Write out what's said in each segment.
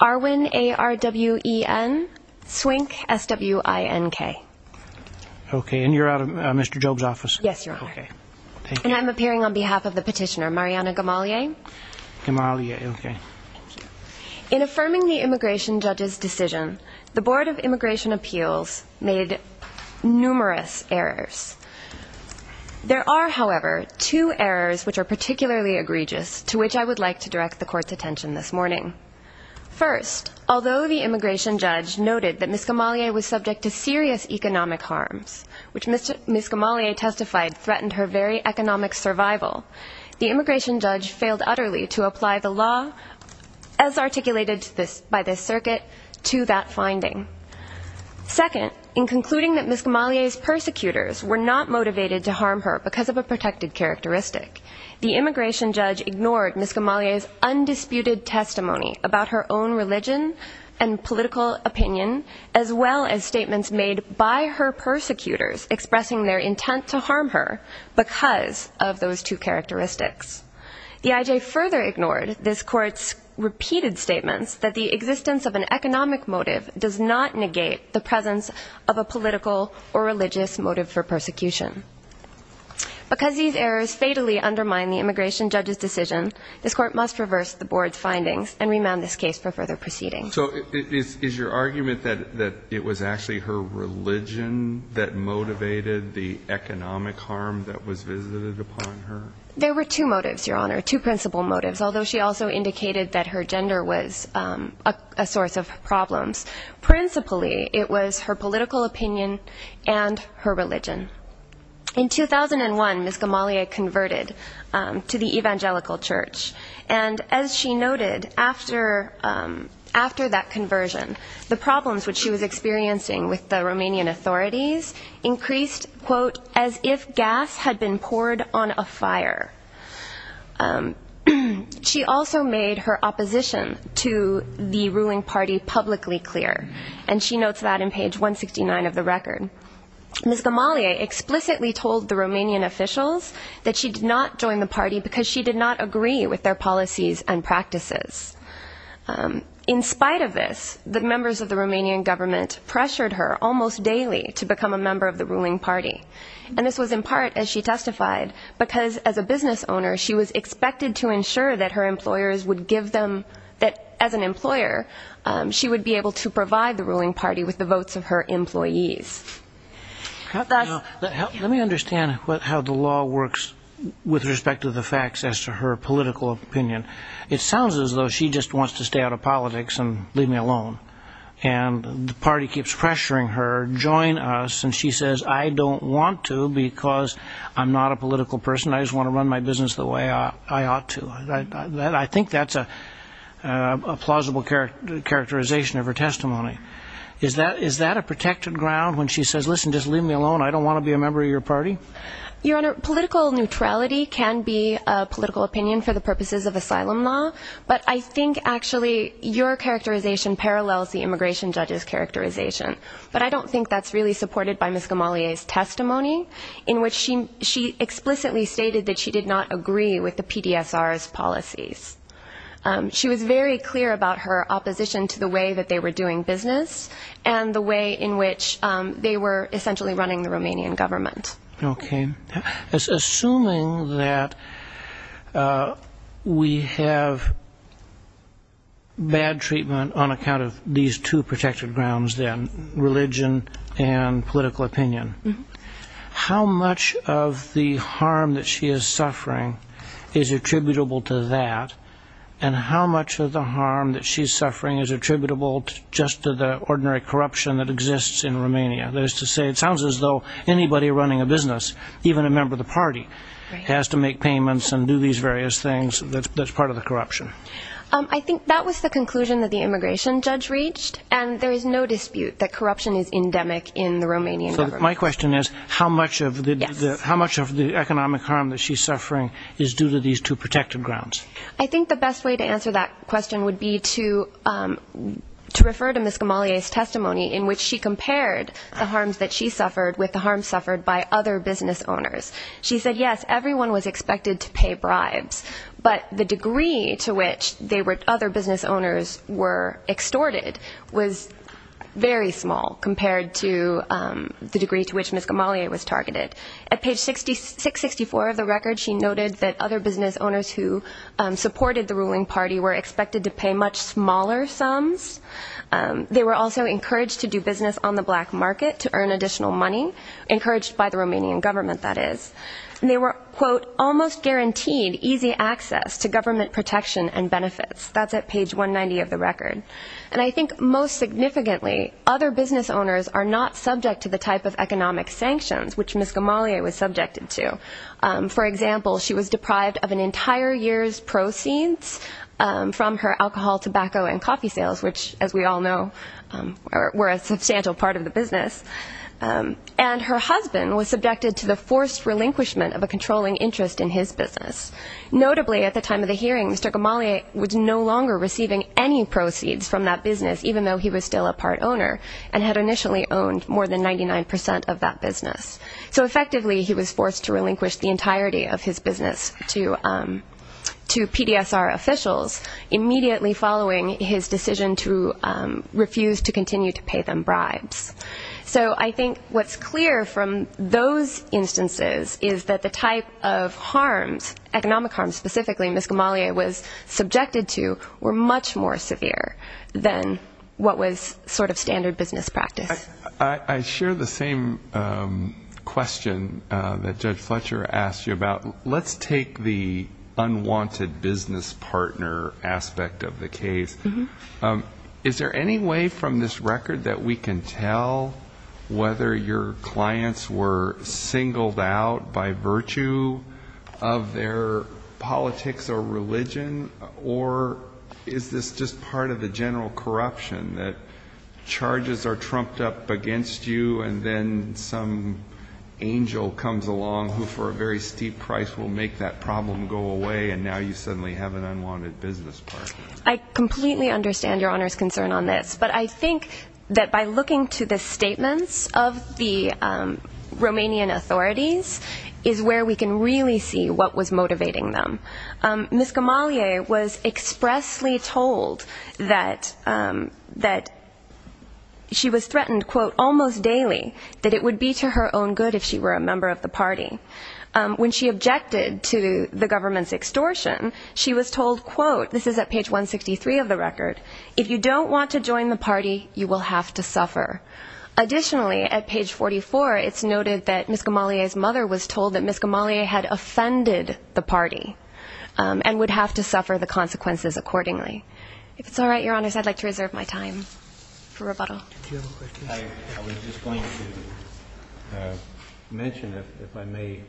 Arwin Swink, S.W.I.N.K. In affirming the Immigration Judge's decision, the Board of Immigration Appeals made numerous errors. There are, however, two errors which are particularly egregious, to which I would like to direct the Court's attention this morning. First, although the Immigration Judge noted that Ms. Gamalie was subject to serious economic harms, which Ms. Gamalie testified threatened her very economic survival, the Immigration Judge failed utterly to apply the law as articulated by this circuit to that finding. Second, in concluding that Ms. Gamalie's persecutors were not motivated to harm her because of a protected characteristic, the Immigration Judge ignored Ms. Gamalie's undisputed testimony about her own religion and political opinion, as well as statements made by her persecutors expressing their intent to harm her because of those two characteristics. The I.J. further ignored this Court's repeated statements that the existence of an economic motive does not negate the presence of a political or religious motive for persecution. Because these errors fatally undermine the Immigration Judge's decision, this Court must reverse the Board's findings and remand this case for further proceedings. So is your argument that it was actually her religion that motivated the economic harm that was visited upon her? There were two motives, Your Honor, two principal motives, although she also indicated that her gender was a source of problems. Principally, it was her political opinion and her religion. In 2001, Ms. Gamalie converted to the Evangelical Church. And as she noted, after that conversion, the problems which she was experiencing with the Romanian authorities increased, quote, as if gas had been poured on a fire. She also made her opposition to the ruling party publicly clear, and she notes that in page 169 of the record. Ms. Gamalie explicitly told the Romanian officials that she did not join the party because she did not agree with their policies and practices. In spite of this, the members of the Romanian government pressured her almost daily to become a member of the ruling party. And this was in part, as she testified, because as a business owner, she was expected to ensure that her employers would give them, that as an employer, she would be able to provide the ruling party with the votes of her employees. Let me understand how the law works with respect to the facts as to her political opinion. It sounds as though she just wants to stay out of politics and leave me alone. And the party keeps pressuring her, join us, and she says, I don't want to because I'm not a political person. I just want to run my business the way I ought to. I think that's a plausible characterization of her testimony. Is that a protected ground when she says, listen, just leave me alone, I don't want to be a member of your party? Your Honor, political neutrality can be a political opinion for the purposes of asylum law, but I think actually your characterization parallels the immigration judge's characterization. But I don't think that's really supported by Ms. Gamalie's testimony, in which she explicitly stated that she did not agree with the PDSR's policies. She was very clear about her opposition to the way that they were doing business and the way in which they were essentially running the Romanian government. Okay. Assuming that we have bad treatment on account of these two protected grounds then, religion and political opinion, how much of the harm that she is suffering is attributable to that? And how much of the harm that she's suffering is attributable just to the ordinary corruption that exists in Romania? That is to say, it sounds as though anybody running a business, even a member of the party, has to make payments and do these various things that's part of the corruption. I think that was the conclusion that the immigration judge reached, and there is no dispute that So my question is, how much of the economic harm that she's suffering is due to these two protected grounds? I think the best way to answer that question would be to refer to Ms. Gamalie's testimony, in which she compared the harms that she suffered with the harms suffered by other business owners. She said, yes, everyone was expected to pay bribes, but the degree to which other business owners were extorted was very small compared to the degree to which Ms. Gamalie was targeted. At page 664 of the record, she noted that other business owners who supported the ruling party were expected to pay much smaller sums. They were also encouraged to do business on the black market to earn additional money, encouraged by the Romanian government, that is. And they were, quote, almost guaranteed easy access to government protection and benefits. That's at page 190 of the record. And I think most significantly, other business owners are not subject to the type of economic sanctions which Ms. Gamalie was subjected to. For example, she was deprived of an entire year's proceeds from her alcohol, tobacco, and coffee sales, which, as we all know, were a substantial part of the business. And her husband was subjected to the forced relinquishment of a controlling interest in his business. Notably, at the time of the hearing, Mr. Gamalie was no longer receiving any proceeds from that business, even though he was still a part owner and had initially owned more than 99% of that business. So effectively, he was forced to relinquish the entirety of his business to PDSR officials, immediately following his decision to refuse to continue to pay them bribes. So I think what's clear from those instances is that the type of harms, economic harms specifically, Ms. Gamalie was subjected to were much more severe than what was sort of standard business practice. I share the same question that Judge Fletcher asked you about. Let's take the unwanted business partner aspect of the case. Is there any way from this record that we can tell whether your clients were singled out by virtue of their politics or religion, or is this just part of the general corruption that charges are trumped up against you and then some angel comes along who, for a very steep price, will make that problem go away, and now you suddenly have an unwanted business partner? I completely understand Your Honor's concern on this, but I think that by looking to the statements of the Romanian authorities is where we can really see what was motivating them. Ms. Gamalie was expressly told that she was threatened, quote, almost daily that it would be to her own good if she were a member of the party. When she objected to the government's extortion, she was told, quote, this is at page 163 of the record, if you don't want to join the party, you will have to suffer. Additionally, at page 44, it's noted that Ms. Gamalie's mother was told that Ms. Gamalie had offended the party and would have to suffer the consequences accordingly. If it's all right, Your Honors, I'd like to reserve my time for rebuttal. I was just going to mention, if I may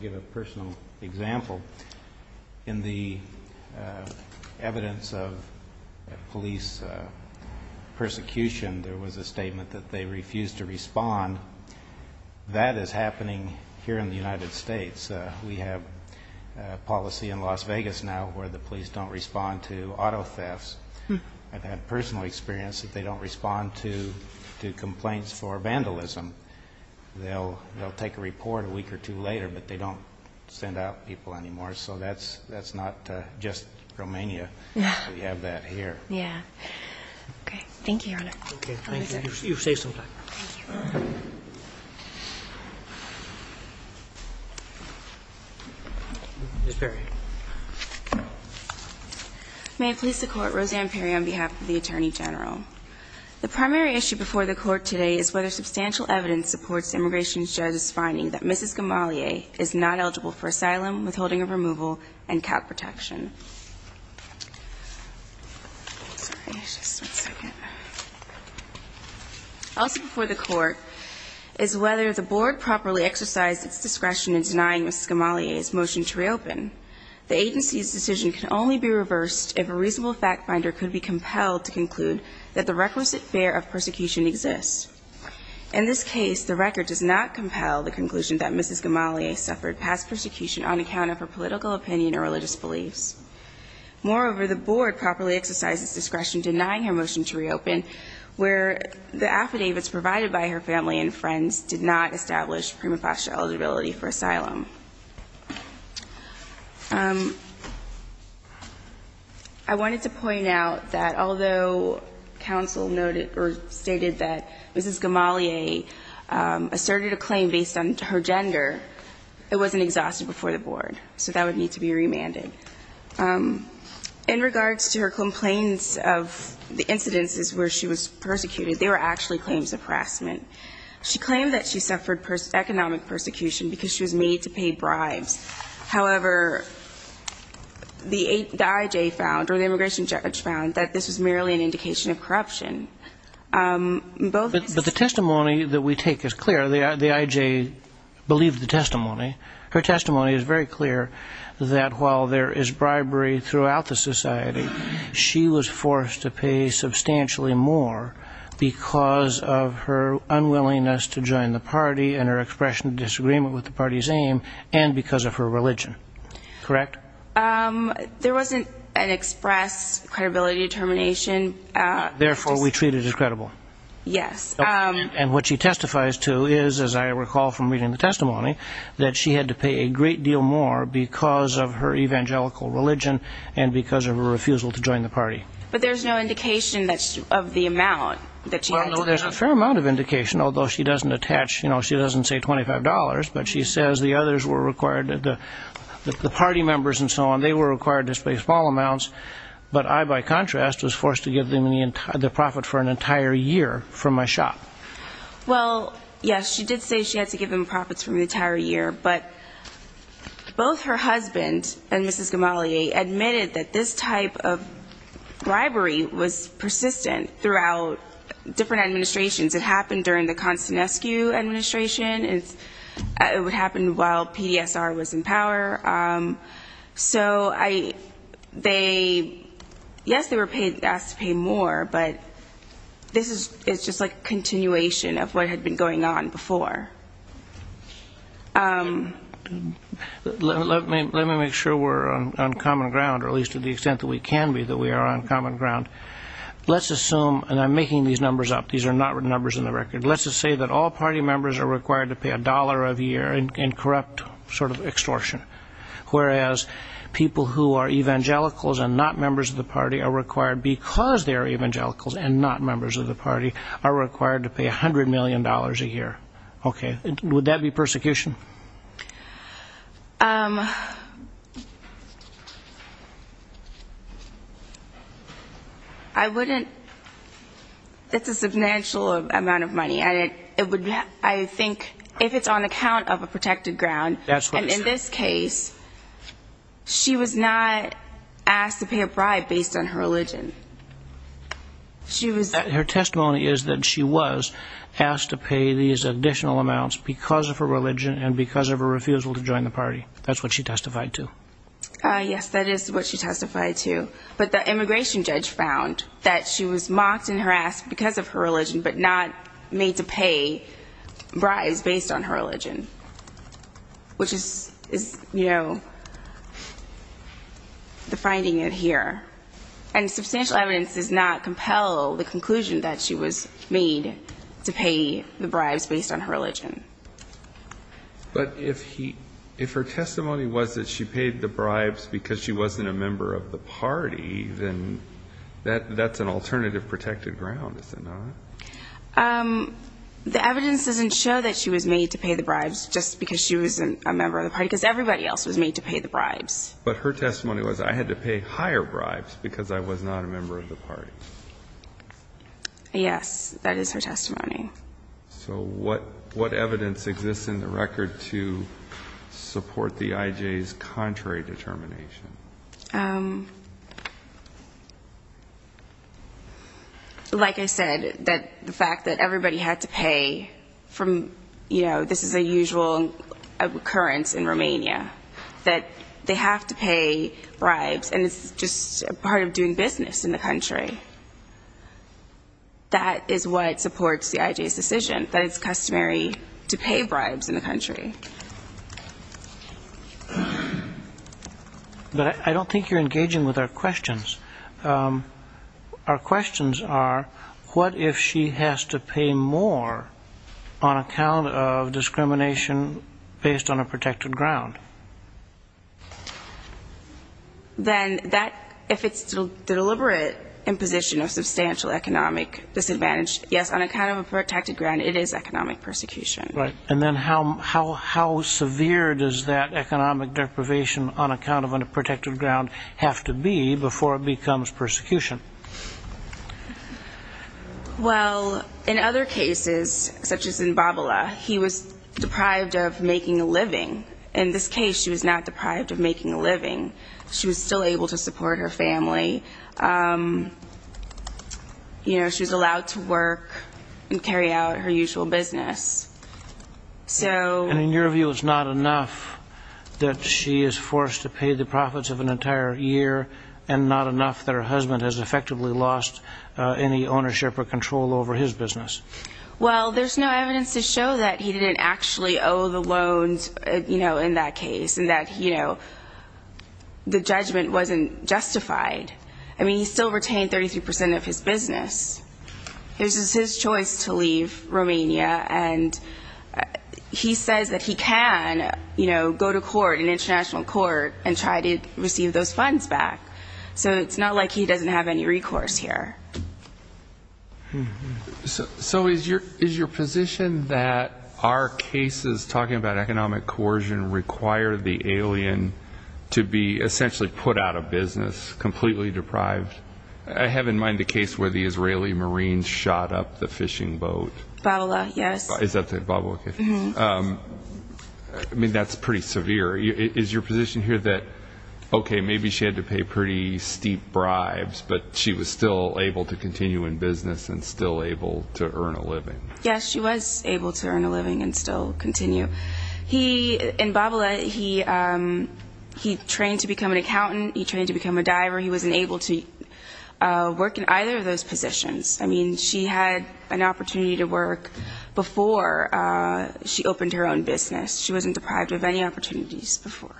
give a personal example, in the evidence of police persecution, there was a statement that they refused to respond. That is happening here in the United States. We have policy in Las Vegas now where the police don't respond to auto thefts. I've had personal experience that they don't respond to complaints for vandalism. They'll take a report a week or two later, but they don't send out people anymore. So that's not just Romania. We have that here. Yeah. Okay. Thank you, Your Honor. Okay. Thank you. You've saved some time. Thank you. Ms. Perry. May it please the Court, Roseanne Perry on behalf of the Attorney General. The primary issue before the Court today is whether substantial evidence supports the immigration judge's finding that Mrs. Gamalie is not eligible for asylum, withholding of removal, and cap protection. Sorry, just one second. Also before the Court is whether the Board properly exercised its discretion in denying Mrs. Gamalie's motion to reopen. The agency's decision can only be reversed if a reasonable fact finder could be compelled to conclude that the requisite fear of persecution exists. In this case, the record does not compel the conclusion that Mrs. Gamalie suffered past persecution on account of her political opinion or religious beliefs. Moreover, the Board properly exercised its discretion denying her motion to reopen where the affidavits provided by her family and friends did not establish prima facie eligibility for asylum. I wanted to point out that although counsel noted or stated that Mrs. Gamalie asserted a claim based on her gender, it wasn't exhausted before the Board. So that would need to be remanded. In regards to her complaints of the incidences where she was persecuted, they were actually claims of harassment. She claimed that she suffered economic persecution because she was made to pay bribes. However, the I.J. found, or the immigration judge found, that this was merely an indication of corruption. But the testimony that we take is clear. The I.J. believed the testimony. Her testimony is very clear that while there is bribery throughout the society, she was forced to pay substantially more because of her unwillingness to join the party and her expression of disagreement with the party's aim and because of her religion. Correct? There wasn't an express credibility determination. Therefore, we treat it as credible. Yes. And what she testifies to is, as I recall from reading the testimony, that she had to pay a great deal more because of her evangelical religion and because of her refusal to join the party. But there's no indication of the amount that she had to pay. Well, no, there's a fair amount of indication, although she doesn't attach, you know, she doesn't say $25, but she says the others were required, the party members and so on, they were required to pay small amounts. But I, by contrast, was forced to give them the profit for an entire year from my shop. Well, yes, she did say she had to give them profits for an entire year, but both her husband and Mrs. Gamalia admitted that this type of bribery was persistent throughout different administrations. It happened during the Konstantinescu administration. It would happen while PDSR was in power. So I, they, yes, they were paid, asked to pay more, but this is just like a continuation of what had been going on before. Let me make sure we're on common ground, or at least to the extent that we can be that we are on common ground. Let's assume, and I'm making these numbers up, these are not numbers in the record, let's just say that all party members are required to pay a dollar a year in corrupt sort of extortion. Whereas people who are evangelicals and not members of the party are required, because they are evangelicals and not members of the party, are required to pay $100 million a year. Okay. Would that be persecution? I wouldn't, it's a substantial amount of money, and it would, I think, if it's on account of a protected ground, and in this case, she was not asked to pay a bribe based on her religion. Her testimony is that she was asked to pay these additional amounts because of her religion and because of her refusal to join the party. That's what she testified to. Yes, that is what she testified to. But the immigration judge found that she was mocked and harassed because of her religion, but not made to pay bribes based on her religion, which is, you know, the finding in here. And substantial evidence does not compel the conclusion that she was made to pay the bribes based on her religion. But if her testimony was that she paid the bribes because she wasn't a member of the party, then that's an alternative protected ground, is it not? The evidence doesn't show that she was made to pay the bribes just because she wasn't a member of the party, because everybody else was made to pay the bribes. But her testimony was, I had to pay higher bribes because I was not a member of the party. Yes, that is her testimony. So what evidence exists in the record to support the IJ's contrary determination? Like I said, the fact that everybody had to pay from, you know, this is a usual occurrence in Romania, that they have to pay bribes, and it's just part of doing business in the country. That is what supports the IJ's decision, that it's customary to pay bribes in the country. But I don't think you're engaging with our questions. Our questions are, what if she has to pay more on account of discrimination based on a protected ground? Then that, if it's the deliberate imposition of substantial economic disadvantage, yes, on account of a protected ground, it is economic persecution. Right. And then how severe does that economic deprivation on account of a protected ground have to be before it becomes persecution? Well, in other cases, such as in Babala, he was deprived of making a living. In this case, she was not deprived of making a living. She was still able to support her family. You know, she was allowed to work and carry out her usual business. And in your view, it's not enough that she is forced to pay the profits of an entire year, and not enough that her husband has effectively lost any ownership or control over his business? Well, there's no evidence to show that he didn't actually owe the loans, you know, in that case, and that, you know, the judgment wasn't justified. I mean, he still retained 33 percent of his business. This is his choice to leave Romania, and he says that he can, you know, go to court, an international court, and try to receive those funds back. So it's not like he doesn't have any recourse here. So is your position that our cases talking about economic coercion require the alien to be essentially put out of business, completely deprived? I have in mind the case where the Israeli Marines shot up the fishing boat. Babala, yes. Is that the Babala case? Mm-hmm. I mean, that's pretty severe. Is your position here that, okay, maybe she had to pay pretty steep bribes, but she was still able to continue in business and still able to earn a living? Yes, she was able to earn a living and still continue. In Babala, he trained to become an accountant. He trained to become a diver. He wasn't able to work in either of those positions. I mean, she had an opportunity to work before she opened her own business. She wasn't deprived of any opportunities before.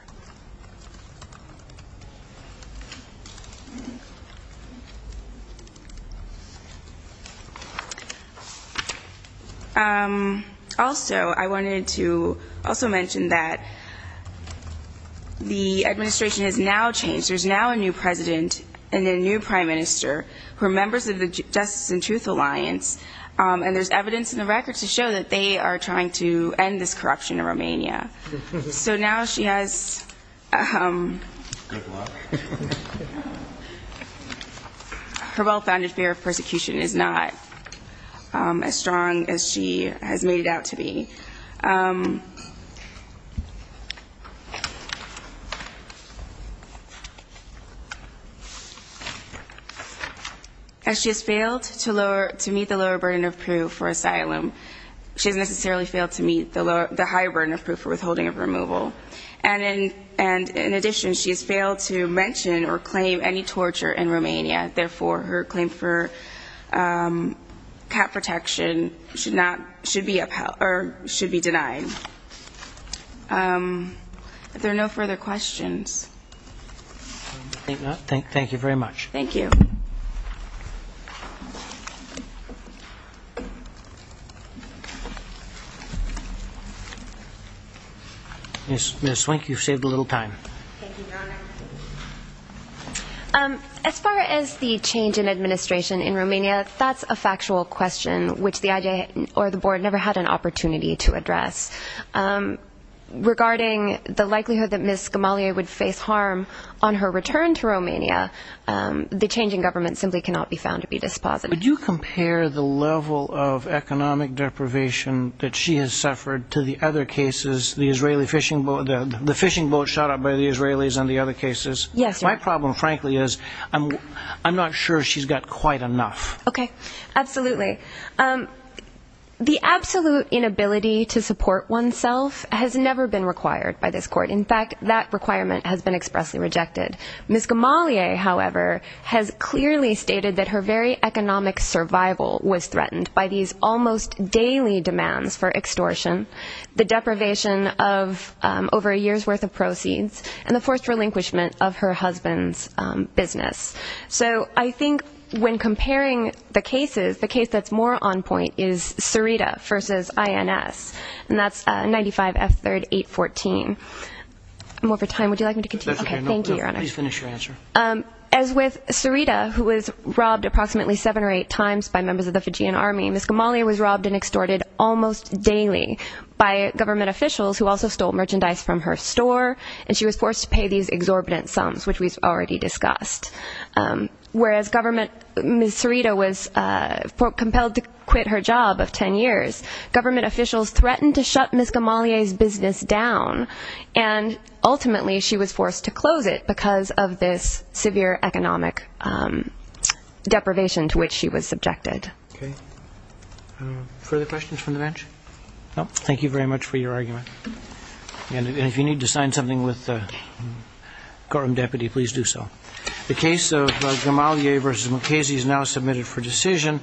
Also, I wanted to also mention that the administration has now changed. There's now a new president and a new prime minister who are members of the Justice and Truth Alliance, and there's evidence in the records to show that they are trying to end this corruption in Romania. Her well-founded fear of persecution is not as strong as she has made it out to be. As she has failed to meet the lower burden of proof for asylum, she has necessarily failed to meet the higher burden of proof for withholding of removal. And in addition, she has failed to mention or claim any torture in Romania. Therefore, her claim for cap protection should be denied. Are there no further questions? I think not. Thank you very much. Thank you. Ms. Swink, you've saved a little time. Thank you, Your Honor. As far as the change in administration in Romania, that's a factual question which the IJ or the Board never had an opportunity to address. Regarding the likelihood that Ms. Gamalia would face harm on her return to Romania, the change in government simply cannot be found to be dispositive. The fishing boat shot up by the Israelis and the other cases, my problem, frankly, is I'm not sure she's got quite enough. Okay. Absolutely. The absolute inability to support oneself has never been required by this Court. In fact, that requirement has been expressly rejected. Ms. Gamalia, however, has clearly stated that her very economic survival was threatened by these almost daily demands for extortion, the deprivation of over a year's worth of proceeds, and the forced relinquishment of her husband's business. So I think when comparing the cases, the case that's more on point is Serita v. INS, and that's 95 F. 3rd 814. I'm over time. Would you like me to continue? Okay. Thank you, Your Honor. Please finish your answer. As with Serita, who was robbed approximately seven or eight times by members of the Fijian Army, Ms. Gamalia was robbed and extorted almost daily by government officials who also stole merchandise from her store, and she was forced to pay these exorbitant sums, which we've already discussed. Whereas Ms. Serita was compelled to quit her job of ten years, government officials threatened to shut Ms. Gamalia's business down, and ultimately she was forced to close it because of this severe economic deprivation to which she was subjected. Okay. Further questions from the bench? No. Thank you very much for your argument. And if you need to sign something with the courtroom deputy, please do so. The case of Gamalia v. Mukasey is now submitted for decision.